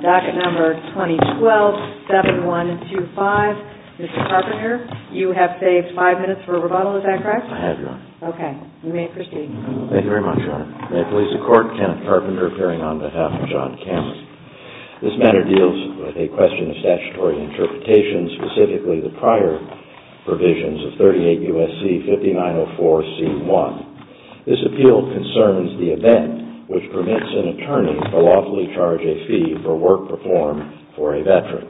Docket Number 2012-7125, Mr. Carpenter, you have saved five minutes for rebuttal, is that correct? I have, Your Honor. Okay, you may proceed. Thank you very much, Your Honor. May it please the Court, Kenneth Carpenter appearing on behalf of John Cameron. This matter deals with a question of statutory interpretation, specifically the prior provisions of 38 U.S.C. 5904c.1. This appeal concerns the event which permits an attorney to lawfully charge a fee for work performed for a veteran.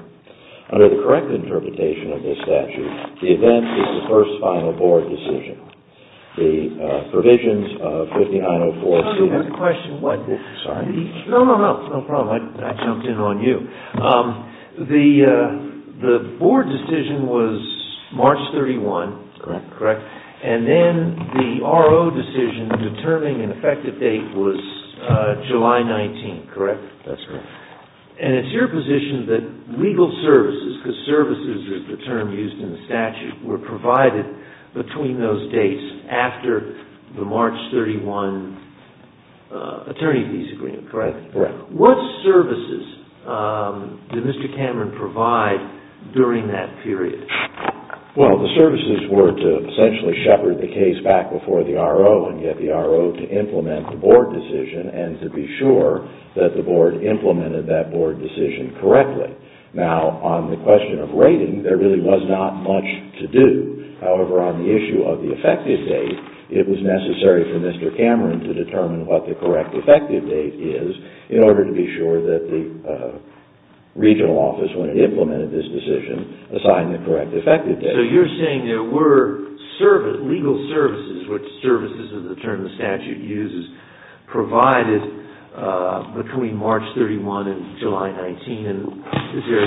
Under the correct interpretation of this statute, the event is the first final board decision. The provisions of 5904c.1. No problem, I jumped in on you. The board decision was March 31, and then the RO decision determining an effective date was July 19, correct? That's correct. And it's your position that legal services, because services is the term used in the statute, were provided between those dates after the March 31 attorney visa agreement, correct? Correct. What services did Mr. Cameron provide during that period? Well, the services were to essentially shepherd the case back before the RO and get the RO to implement the board decision and to be sure that the board implemented that board decision correctly. Now, on the question of rating, there really was not much to do. However, on the issue of the effective date, it was necessary for Mr. Cameron to determine what the correct effective date is in order to be sure that the regional office, when it implemented this decision, assigned the correct effective date. So you're saying there were legal services, which services is the term the statute uses, provided between March 31 and July 19, and is there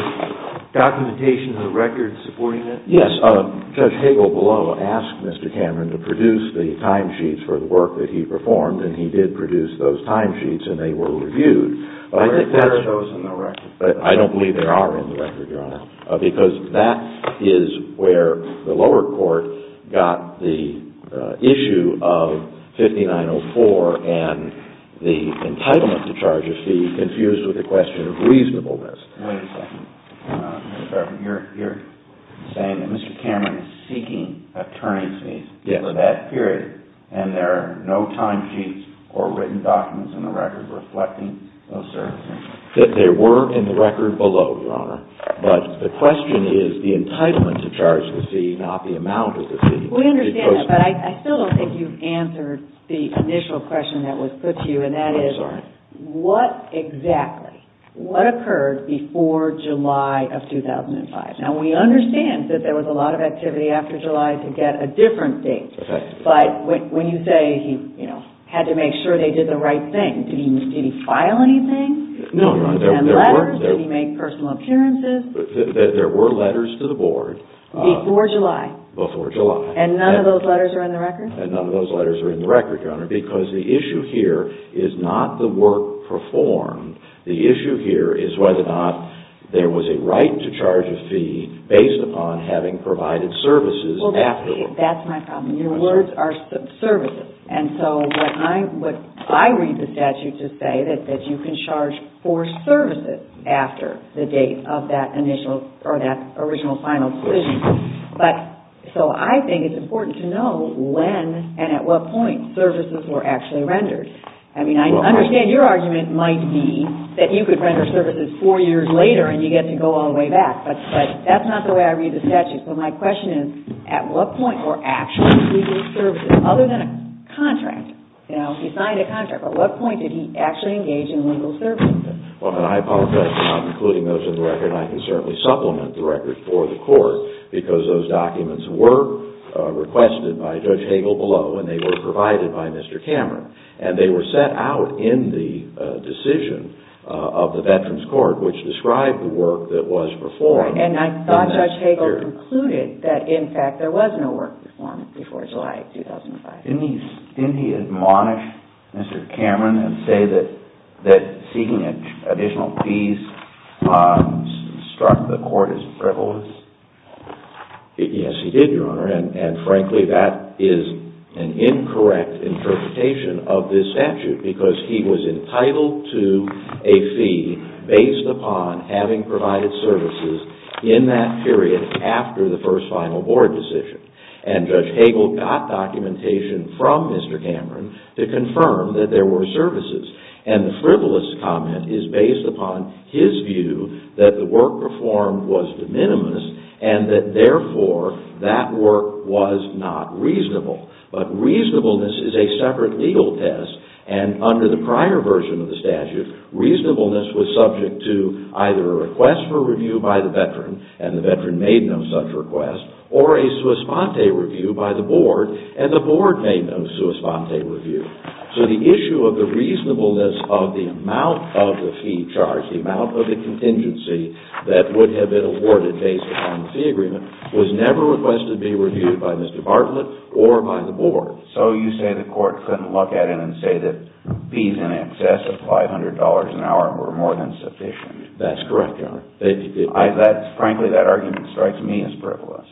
documentation in the record supporting that? Yes. Judge Hagel below asked Mr. Cameron to produce the timesheets for the work that he performed, and he did produce those timesheets, and they were reviewed. I think that shows in the record. I don't believe they are in the record, Your Honor, because that is where the lower court got the issue of 5904 and the entitlement to charge a fee, confused with the question of reasonableness. Wait a second. You're saying that Mr. Cameron is seeking a turning fee for that period, and there are no timesheets or written documents in the record reflecting those services? There were in the record below, Your Honor, but the question is the entitlement to charge a fee, not the amount of the fee. We understand that, but I still don't think you've answered the initial question that was put to you, and that is what exactly, what occurred before July of 2005? Now, we understand that there was a lot of activity after July to get a different date, but when you say he had to make sure they did the right thing, did he file anything? No, Your Honor. Did he send letters? Did he make personal appearances? There were letters to the board. Before July. Before July. And none of those letters are in the record? And none of those letters are in the record, Your Honor, because the issue here is not the work performed. The issue here is whether or not there was a right to charge a fee based upon having provided services afterward. Well, that's my problem. Your words are services, and so what I read the statute to say is that you can charge for services after the date of that initial or that original final decision. But, so I think it's important to know when and at what point services were actually rendered. I mean, I understand your argument might be that you could render services four years later and you get to go all the way back, but that's not the way I read the statute. So my question is, at what point were actually legal services, other than a contract? Now, if he signed a contract, at what point did he actually engage in legal services? Well, and I apologize for not including those in the record, and I can certainly supplement the record for the court, because those documents were requested by Judge Hagel below, and they were provided by Mr. Cameron. And they were set out in the decision of the Veterans Court, which described the work that was performed in that period. And I thought Judge Hagel concluded that, in fact, there was no work performed before July of 2005. Didn't he admonish Mr. Cameron and say that seeking additional fees struck the court as frivolous? Yes, he did, Your Honor. And frankly, that is an incorrect interpretation of this statute, because he was entitled to a fee based upon having provided services in that period after the first final board decision. And Judge Hagel got documentation from Mr. Cameron to confirm that there were services. And the frivolous comment is based upon his view that the work performed was de minimis, and that, therefore, that work was not reasonable. But reasonableness is a separate legal test, and under the prior version of the statute, reasonableness was subject to either a request for review by the veteran, and the veteran made no such request, or a sua sponte review by the board, and the board made no sua sponte review. So the issue of the reasonableness of the amount of the fee charged, the amount of the contingency that would have been awarded based upon the fee agreement, was never requested to be reviewed by Mr. Bartlett or by the board. So you say the court couldn't look at it and say that fees in excess of $500 an hour were more than sufficient. That's correct, Your Honor. Frankly, that argument strikes me as frivolous.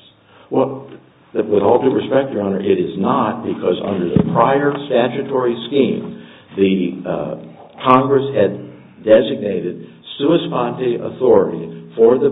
Well, with all due respect, Your Honor, it is not, because under the prior statutory scheme, the Congress had designated sua sponte authority for the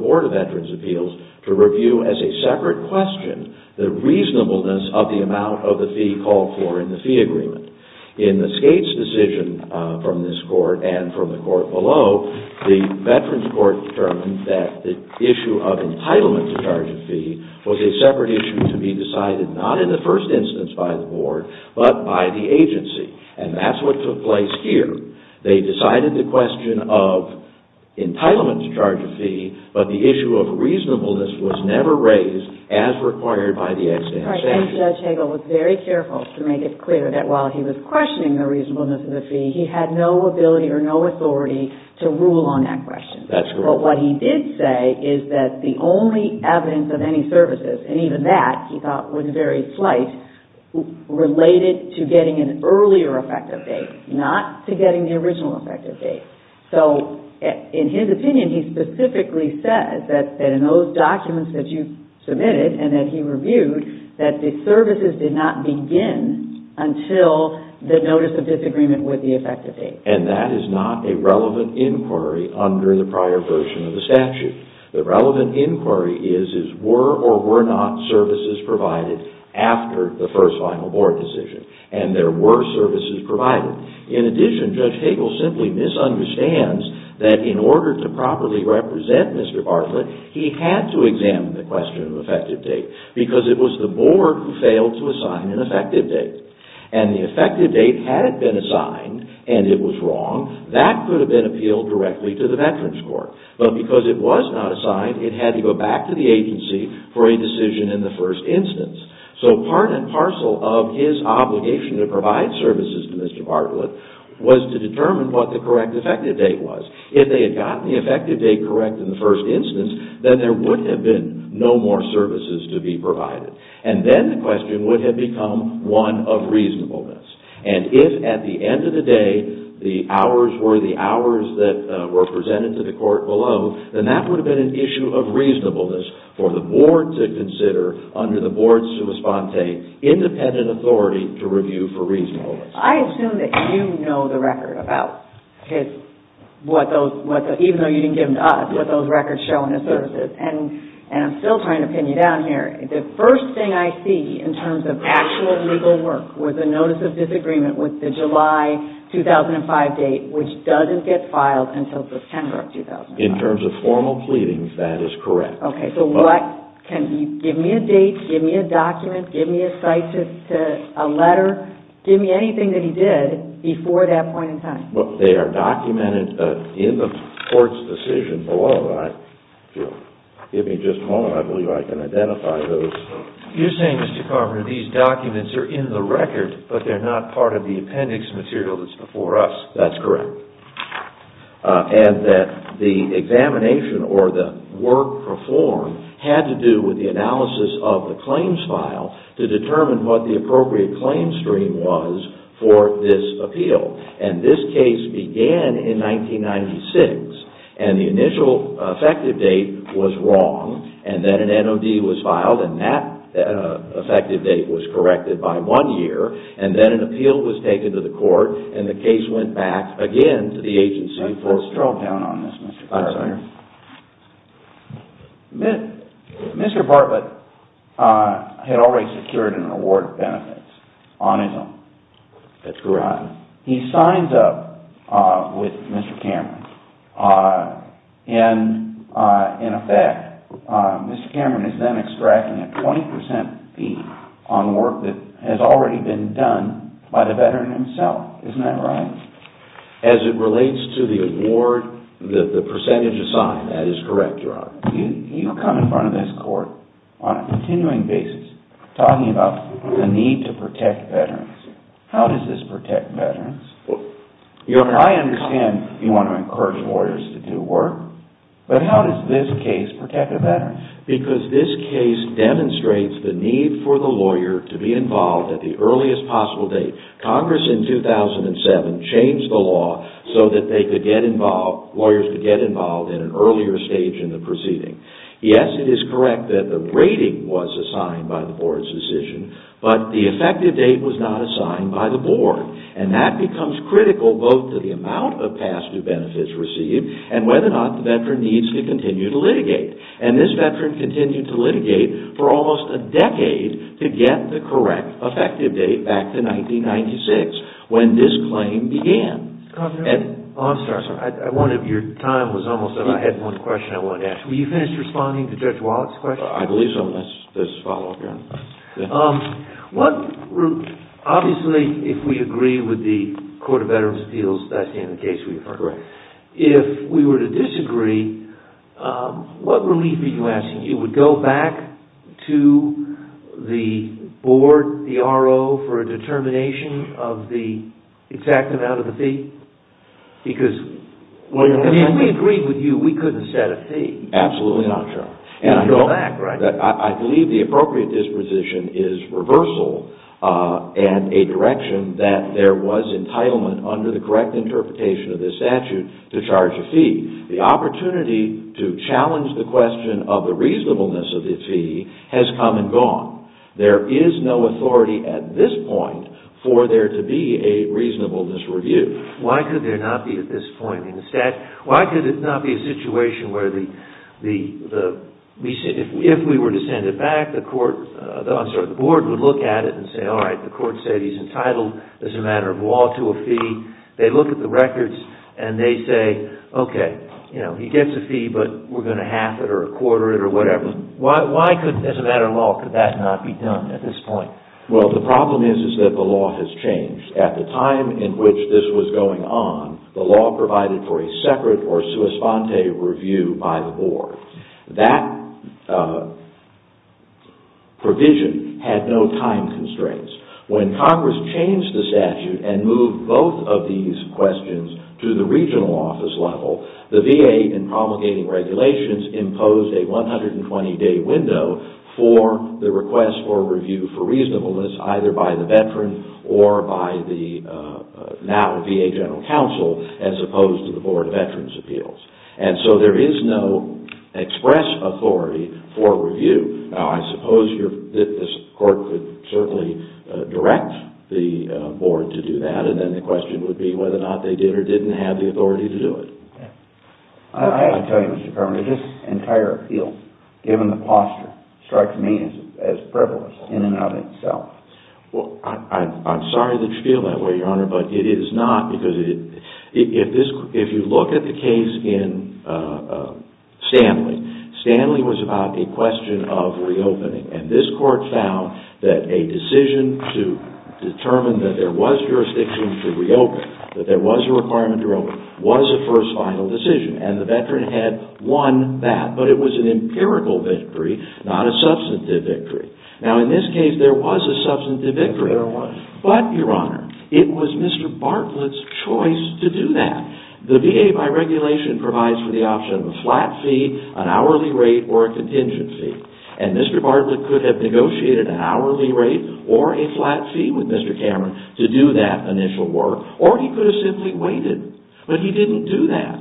Board of Veterans' Appeals to review as a separate question the reasonableness of the amount of the fee called for in the fee agreement. In the Skate's decision from this court and from the court below, the Veterans' Court determined that the issue of entitlement to charge a fee was a separate issue to be decided not in the first instance by the board, but by the agency, and that's what took place here. They decided the question of entitlement to charge a fee, but the issue of reasonableness was never raised as required by the extant statute. Your Honor, I think Judge Hagel was very careful to make it clear that while he was questioning the reasonableness of the fee, he had no ability or no authority to rule on that question. That's correct. But what he did say is that the only evidence of any services, and even that, he thought, was very slight, related to getting an earlier effective date, not to getting the original effective date. So in his opinion, he specifically says that in those documents that you submitted and that he reviewed, that the services did not begin until the notice of disagreement with the effective date. And that is not a relevant inquiry under the prior version of the statute. The relevant inquiry is, were or were not services provided after the first final board decision, and there were services provided. In addition, Judge Hagel simply misunderstands that in order to properly represent Mr. Bartlett, he had to examine the question of effective date, because it was the board who failed to assign an effective date. And the effective date, had it been assigned, and it was wrong, that could have been appealed directly to the Veterans Court. But because it was not assigned, it had to go back to the agency for a decision in the first instance. So part and parcel of his obligation to provide services to Mr. Bartlett was to determine what the correct effective date was. If they had gotten the effective date correct in the first instance, then there would have been no more services to be provided. And then the question would have become one of reasonableness. And if at the end of the day, the hours were the hours that were presented to the court below, then that would have been an issue of reasonableness for the board to consider under the board sua sponte, independent authority to review for reasonableness. I assume that you know the record about what those, even though you didn't give it to us, what those records show in the services. And I'm still trying to pin you down here. The first thing I see in terms of actual legal work was a notice of disagreement with the July 2005 date, which doesn't get filed until September of 2005. In terms of formal pleadings, that is correct. Okay, so what, can you give me a date, give me a document, give me a cite to a letter, give me anything that he did before that point in time? Well, they are documented in the court's decision below. And if you'll give me just a moment, I believe I can identify those. You're saying, Mr. Carver, these documents are in the record, but they're not part of the appendix material that's before us. That's correct. And that the examination or the work performed had to do with the analysis of the claims file to determine what the appropriate claim stream was for this appeal. And this case began in 1996, and the initial effective date was wrong, and then an NOD was filed, and that effective date was corrected by one year, and then an appeal was taken to the court, and the case went back again to the agency for trial. Mr. Bartlett had already secured an award of benefits on his own. That's correct. He signs up with Mr. Cameron, and in effect, Mr. Cameron is then extracting a 20% fee on work that has already been done by the veteran himself. Isn't that right? As it relates to the award, the percentage assigned, that is correct, Your Honor. You come in front of this court on a continuing basis, talking about the need to protect veterans. How does this protect veterans? I understand you want to encourage lawyers to do work, but how does this case protect a veteran? Because this case demonstrates the need for the lawyer to be involved at the earliest possible date. Congress in 2007 changed the law so that lawyers could get involved at an earlier stage in the proceeding. Yes, it is correct that the rating was assigned by the board's decision, but the effective date was not assigned by the board, and that becomes critical both to the amount of past due benefits received and whether or not the veteran needs to continue to litigate, and this veteran continued to litigate for almost a decade to get the correct effective date back to 1996, when this claim began. One of your time was almost up. I had one question I wanted to ask. Were you finished responding to Judge Wallach's question? I believe so. Let's follow up, Your Honor. Obviously, if we agree with the Court of Veterans Appeals, that's the end of the case we refer to. If we were to disagree, what relief are you asking? You would go back to the board, the RO, for a determination of the exact amount of the fee? Because if we agreed with you, we couldn't set a fee. Absolutely not, Your Honor. I believe the appropriate disposition is reversal and a direction that there was entitlement to a fee. The opportunity to challenge the question of the reasonableness of the fee has come and gone. There is no authority at this point for there to be a reasonableness review. Why could there not be at this point in the statute? Why could it not be a situation where if we were to send it back, the board would look at it and say, all right, the court said he's entitled as a matter of law to a fee. They look at the records and they say, okay, he gets a fee, but we're going to half it or a quarter it or whatever. Why, as a matter of law, could that not be done at this point? Well, the problem is that the law has changed. At the time in which this was going on, the law provided for a separate or sui sponte review by the board. That provision had no time constraints. When Congress changed the statute and moved both of these questions to the regional office level, the VA, in promulgating regulations, imposed a 120-day window for the request for review for reasonableness, either by the veteran or by the now VA General Counsel, as opposed to the Board of Veterans' Appeals. And so there is no express authority for review. Now, I suppose this court could certainly direct the board to do that, and then the question would be whether or not they did or didn't have the authority to do it. I have to tell you, Mr. Perlman, this entire appeal, given the posture, strikes me as frivolous in and of itself. Well, I'm sorry that you feel that way, Your Honor, but it is not, because if you look at the case in Stanley, Stanley was about a question of reopening. And this court found that a decision to determine that there was jurisdiction to reopen, that there was a requirement to reopen, was a first final decision. And the veteran had won that, but it was an empirical victory, not a substantive victory. Now, in this case, there was a substantive victory. But, Your Honor, it was Mr. Bartlett's choice to do that. The VA, by regulation, provides for the option of a flat fee, an hourly rate, or a contingency. And Mr. Bartlett could have negotiated an hourly rate or a flat fee with Mr. Cameron to do that initial work, or he could have simply waited, but he didn't do that.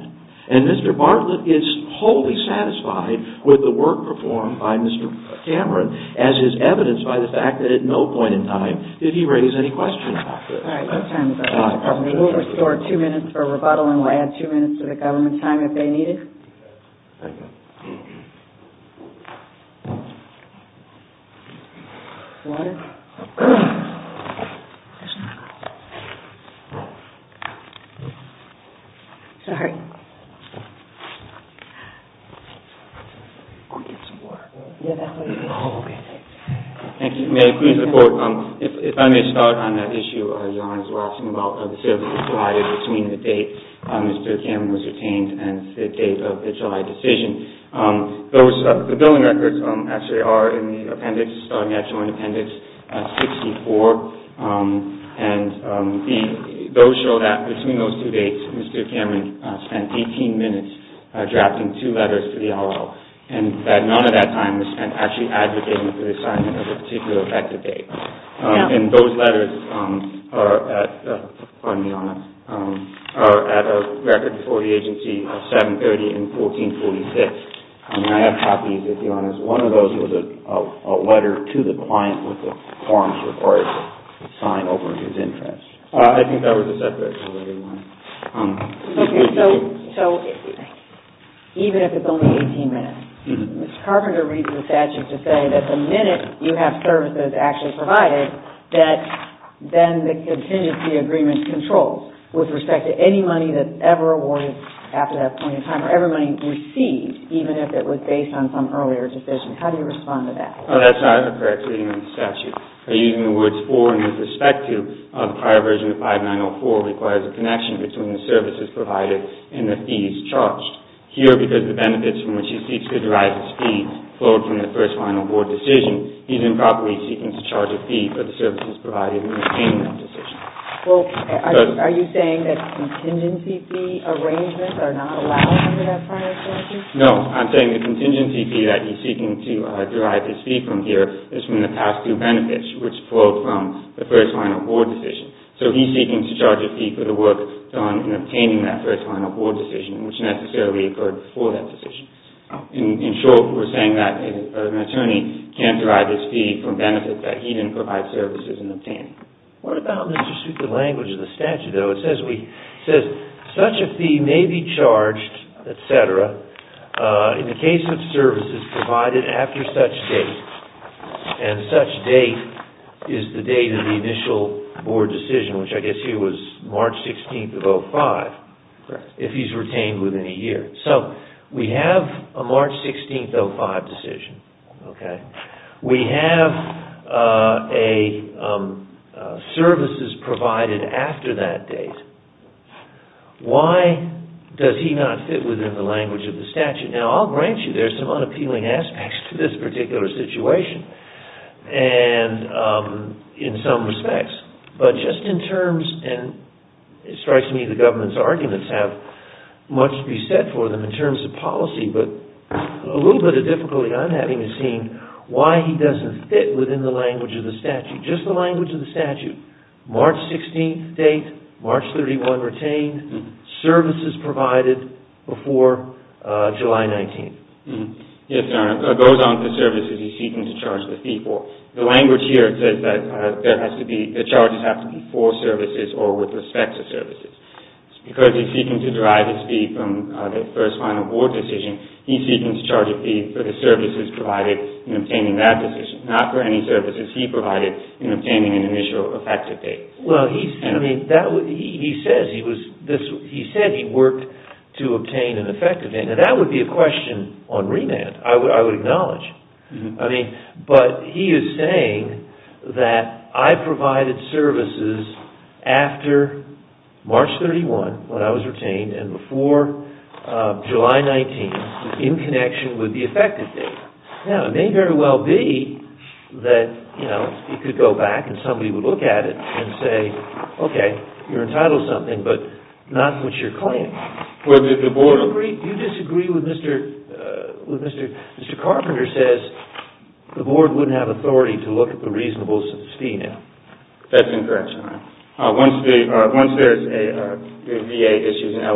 And Mr. Bartlett is wholly satisfied with the work performed by Mr. Cameron, as is evidenced by the fact that at no point in time did he raise any questions about this. We'll restore two minutes for rebuttal, and we'll add two minutes to the government time if they need it. Water? There's no water. Sorry. Can we get some water? Yeah, that way. Oh, okay. Thank you. May I please report? If I may start on that issue, Your Honor. As you were asking about the service provided between the date Mr. Cameron was detained and the date of the July decision. The billing records actually are in the appendix, the actual appendix 64, and those show that between those two dates, Mr. Cameron spent 18 minutes drafting two letters to the OLL, and that none of that time was spent actually advocating for the assignment of a particular effective date. And those letters are at, pardon me, Your Honor, are at a record before the agency of 730 and 1446. I mean, I have copies, Your Honor. One of those was a letter to the client with the forms required to sign over his interest. I think that was a separate one. Okay, so even if it's only 18 minutes, Ms. Carpenter reads the statute to say that the minute you have services actually provided, that then the contingency agreement controls with respect to any money that's ever awarded after that point in time or ever received, even if it was based on some earlier decision. How do you respond to that? That's not a correct reading of the statute. By using the words for and with respect to, the prior version of 5904 requires a connection between the services provided and the fees charged. Here, because the benefits from which he seeks to derive his fees flowed from the first final board decision, he's improperly seeking to charge a fee for the services provided in obtaining that decision. Well, are you saying that contingency fee arrangements are not allowed under that prior statute? No, I'm saying the contingency fee that he's seeking to derive his fee from here is from the past two benefits, which flowed from the first final board decision. So he's seeking to charge a fee for the work done in obtaining that first final board decision, which necessarily occurred before that decision. In short, we're saying that an attorney can't derive his fee from benefits that he didn't provide services in obtaining. What about Mr. Superman's language of the statute, though? It says, such a fee may be charged, etc., in the case of services provided after such date, and such date is the date of the initial board decision, which I guess here was March 16th of 2005, if he's retained within a year. So, we have a March 16th, 2005 decision. We have services provided after that date. Why does he not fit within the language of the statute? Now, I'll grant you there's some unappealing aspects to this particular situation in some respects, but just in terms, and it strikes me the government's arguments have much to be said for them in terms of policy, but a little bit of difficulty I'm having is seeing why he doesn't fit within the language of the statute. Just the language of the statute, March 16th date, March 31 retained, services provided before July 19th. Yes, Your Honor. It goes on to services he's seeking to charge the fee for. The language here says that the charges have to be for services or with respect to services. Because he's seeking to derive his fee from the first final board decision, he's seeking to charge a fee for the services provided in obtaining that decision, not for any services he provided in obtaining an initial effective date. Well, he said he worked to obtain an effective date. Now, that would be a question on remand, I would acknowledge. I mean, but he is saying that I provided services after March 31, when I was retained, and before July 19, in connection with the effective date. Now, it may very well be that, you know, he could go back and somebody would look at it and say, okay, you're entitled to something, but not what you're claiming. Do you disagree with Mr. Carpenter says the board wouldn't have authority to look at the reasonable fee now? That's incorrect, Your Honor. Once there's a VA issues an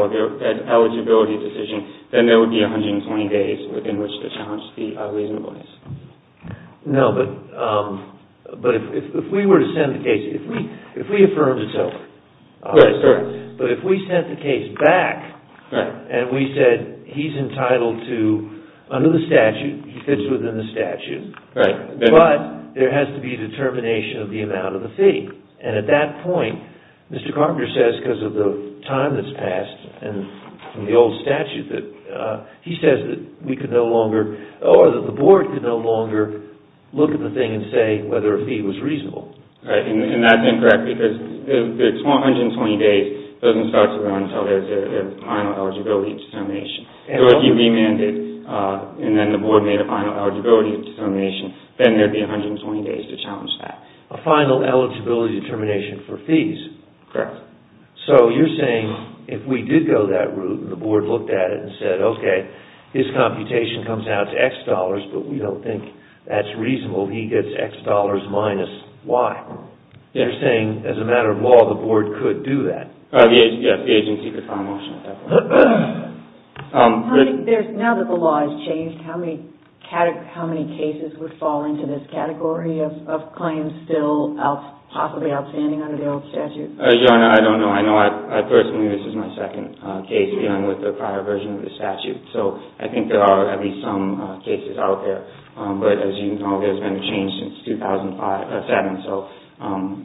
eligibility decision, then there would be 120 days within which to challenge the reasonableness. No, but if we were to send the case, if we affirmed itself, but if we sent the case back and we said he's entitled to, under the statute, he fits within the statute, but there has to be determination of the amount of the fee, and at that point, Mr. Carpenter says, because of the time that's passed and the old statute, he says that we could no longer, or that the board could no longer look at the thing and say whether a fee was reasonable. Right, and that's incorrect because the 120 days doesn't start to run until there's a final eligibility determination. So if you remanded and then the board made a final eligibility determination, then there'd be 120 days to challenge that. A final eligibility determination for fees. Correct. So you're saying if we did go that route and the board looked at it and said, okay, his computation comes out to X dollars, but we don't think that's reasonable, he gets X dollars minus Y. You're saying, as a matter of law, the board could do that. Yes, the agency could file a motion at that point. Now that the law has changed, how many cases would fall into this category of claims still possibly outstanding under the old statute? Your Honor, I don't know. I know I personally, this is my second case dealing with the prior version of the statute. So I think there are at least some cases out there. But as you know, there's been a change since 2007, so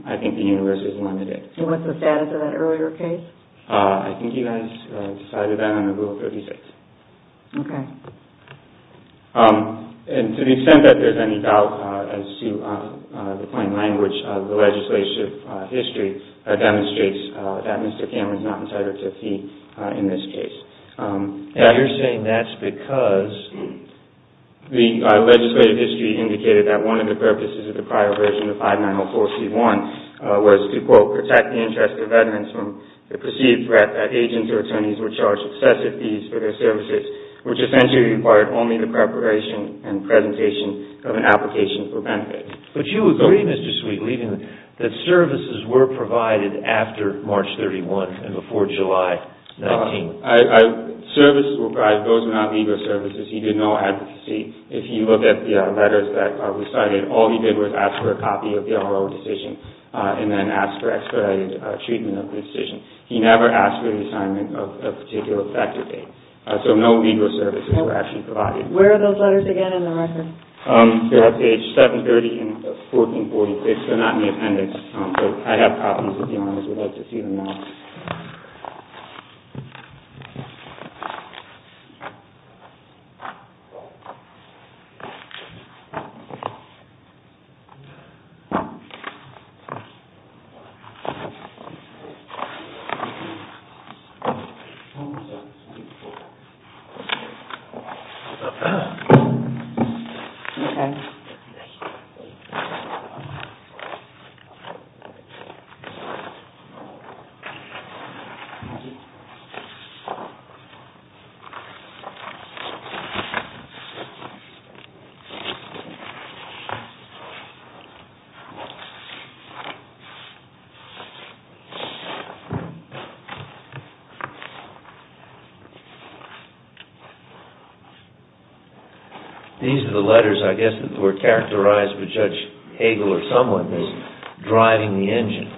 I think the universe is limited. And what's the status of that earlier case? I think you guys decided that under Rule 36. Okay. And to the extent that there's any doubt, as to the plain language of the legislative history, that demonstrates that Mr. Cameron is not entitled to a fee in this case. Now you're saying that's because the legislative history indicated that one of the purposes of the prior version of 5904C1 was to, quote, protect the interests of veterans from the perceived threat that agents or attorneys were charged excessive fees for their services, which essentially required only the preparation and presentation of an application for benefit. But you agree, Mr. Sweet, that services were provided after March 31 and before July 19. Services were provided. Those were not legal services. He did no advocacy. If you look at the letters that were cited, all he did was ask for a copy of the R.O. decision and then ask for expedited treatment of the decision. He never asked for the assignment of a particular factor date. So no legal services were actually provided. Where are those letters again in the record? They're at page 730 and 1446. They're not in the appendix. So I have problems with them. I would like to see them now. Thank you. These are the letters, I guess, that were characterized with Judge Hagel or someone as driving the engine.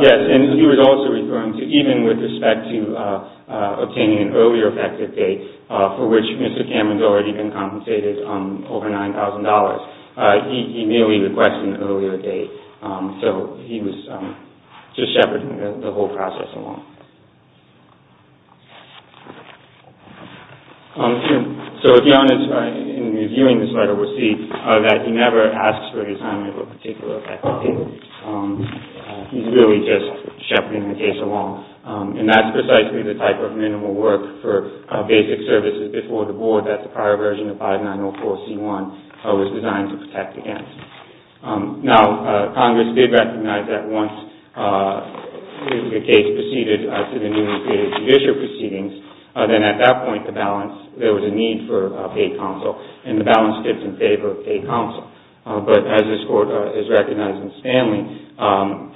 Yes, and he was also referring to even with respect to obtaining an earlier effective date for which Mr. Cameron's already been compensated over $9,000. He merely requested an earlier date. So he was just shepherding the whole process. So if you're interested in reviewing this letter, we'll see that he never asks for the assignment of a particular effective date. He's really just shepherding the case along. And that's precisely the type of minimal work for basic services before the board that the prior version of 5904C1 was designed to protect against. If the case proceeded as to the newly created judicial proceedings, then at that point there was a need for a paid counsel. And the balance tips in favor of paid counsel. But as this Court has recognized in Stanley,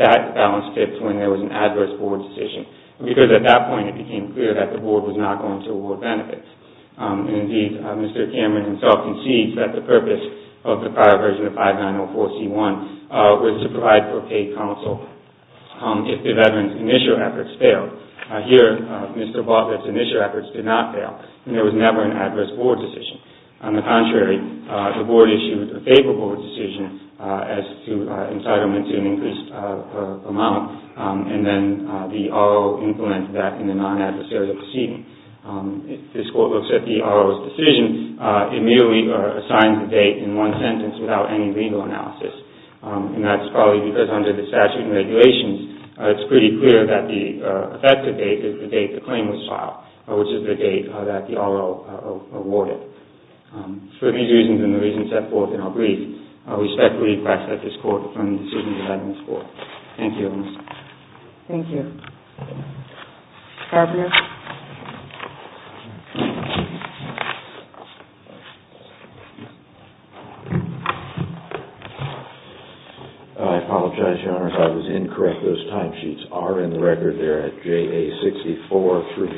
that balance tips when there was an adverse board decision. Because at that point it became clear that the board was not going to award benefits. Indeed, Mr. Cameron himself concedes that the purpose of the prior version of 5904C1 was to provide for paid counsel. If the veteran's initial efforts failed. Here, Mr. Bothred's initial efforts did not fail. And there was never an adverse board decision. On the contrary, the board issued a favorable decision as to entitlement to an increased amount. And then the R.O. influenced that in the non-adversarial proceeding. This Court looks at the R.O.'s decision. It merely assigns a date in one sentence without any legal analysis. And that's probably because under the statute and regulations, it's pretty clear that the effective date is the date the claim was filed. Which is the date that the R.O. awarded. For these reasons and the reasons set forth in our brief, we respectfully request that this Court defer the decision to the adverse board. Thank you. Thank you. Fabio? I apologize, Your Honor, if I was incorrect. Those timesheets are in the record there at JA 64 through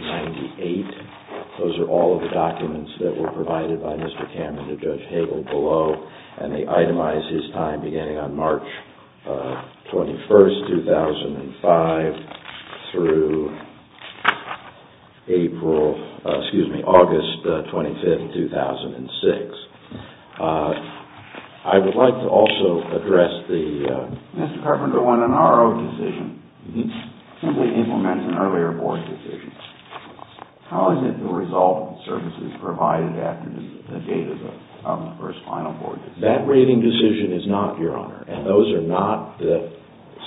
98. Those are all of the documents that were provided by Mr. Cameron to Judge Hagel below. And they itemize his time beginning on March 21, 2005, through April, excuse me, August 25, 2006. I would like to also address the Mr. Carpenter won an R.O. decision. He simply implements an earlier board decision. How is it the resultant services provided after the date of the first final board decision? That rating decision is not, Your Honor. And those are not the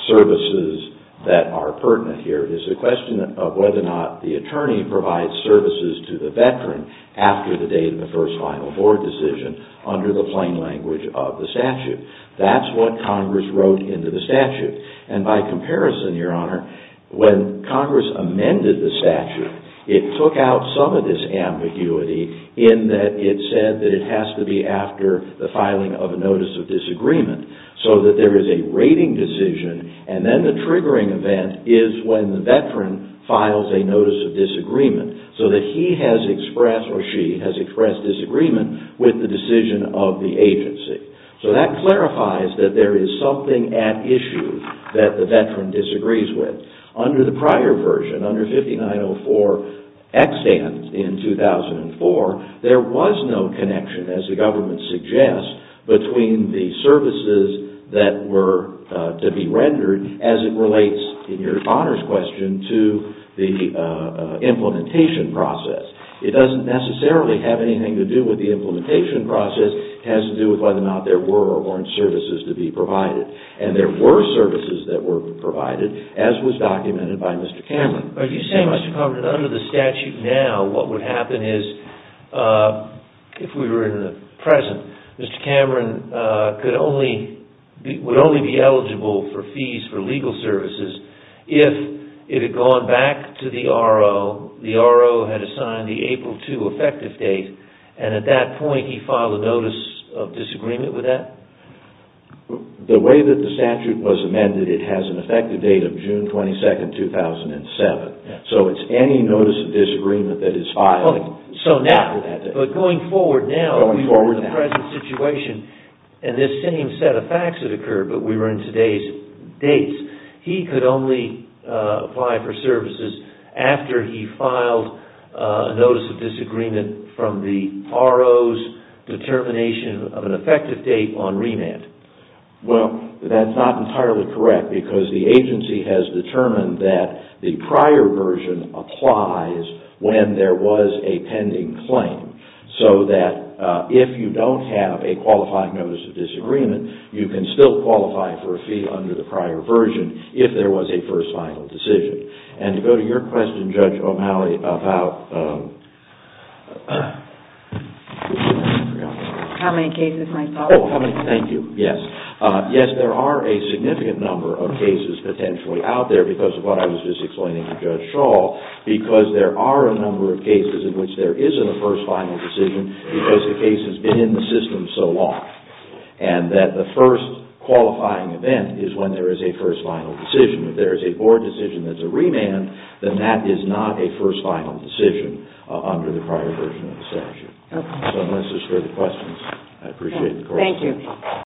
services that are pertinent here. It is a question of whether or not the attorney provides services to the veteran after the date of the first final board decision under the plain language of the statute. That's what Congress wrote into the statute. And by comparison, Your Honor, when Congress amended the statute, it took out some of this ambiguity in that it said that it has to be after the filing of a notice of disagreement. So that there is a rating decision and then the triggering event is when the veteran files a notice of disagreement. So that he has expressed or she has expressed disagreement with the decision of the agency. So that clarifies that there is something at issue that the veteran disagrees with. Under the prior version, under 5904X in 2004, there was no connection, as the government suggests, between the services that were to be rendered as it relates, in Your Honor's question, to the implementation process. It doesn't necessarily have anything to do with the implementation process. It has to do with whether or not there were or weren't services to be provided. And there were services that were provided, as was documented by Mr. Cameron. Are you saying, Mr. Carver, that under the statute now, what would happen is, if we were in the present, Mr. Cameron would only be eligible for fees for legal services if it had gone back to the RO, the RO had assigned the April 2 effective date, and at that point he filed a notice of disagreement with that? The way that the statute was amended, it has an effective date of June 22, 2007. So it's any notice of disagreement that is filed after that date. But going forward now, in the present situation, in this same set of facts that occurred, but we were in today's dates, he could only apply for services after he filed a notice of disagreement from the RO's determination of an effective date on remand. Well, that's not entirely correct, because the agency has determined that the prior version applies when there was a pending claim. So that if you don't have a qualified notice of disagreement, you can still qualify for a fee under the prior version if there was a first final decision. And to go to your question, Judge O'Malley, about... How many cases might follow? Thank you. Yes. Yes, there are a significant number of cases potentially out there, because of what I was just explaining to Judge Shaw, because there are a number of cases in which there isn't a first final decision because the case has been in the system so long. And that the first qualifying event is when there is a first final decision. If there is a board decision that's a remand, then that is not a first final decision under the prior version of the statute. So unless there's further questions, I appreciate the court's time. Thank you.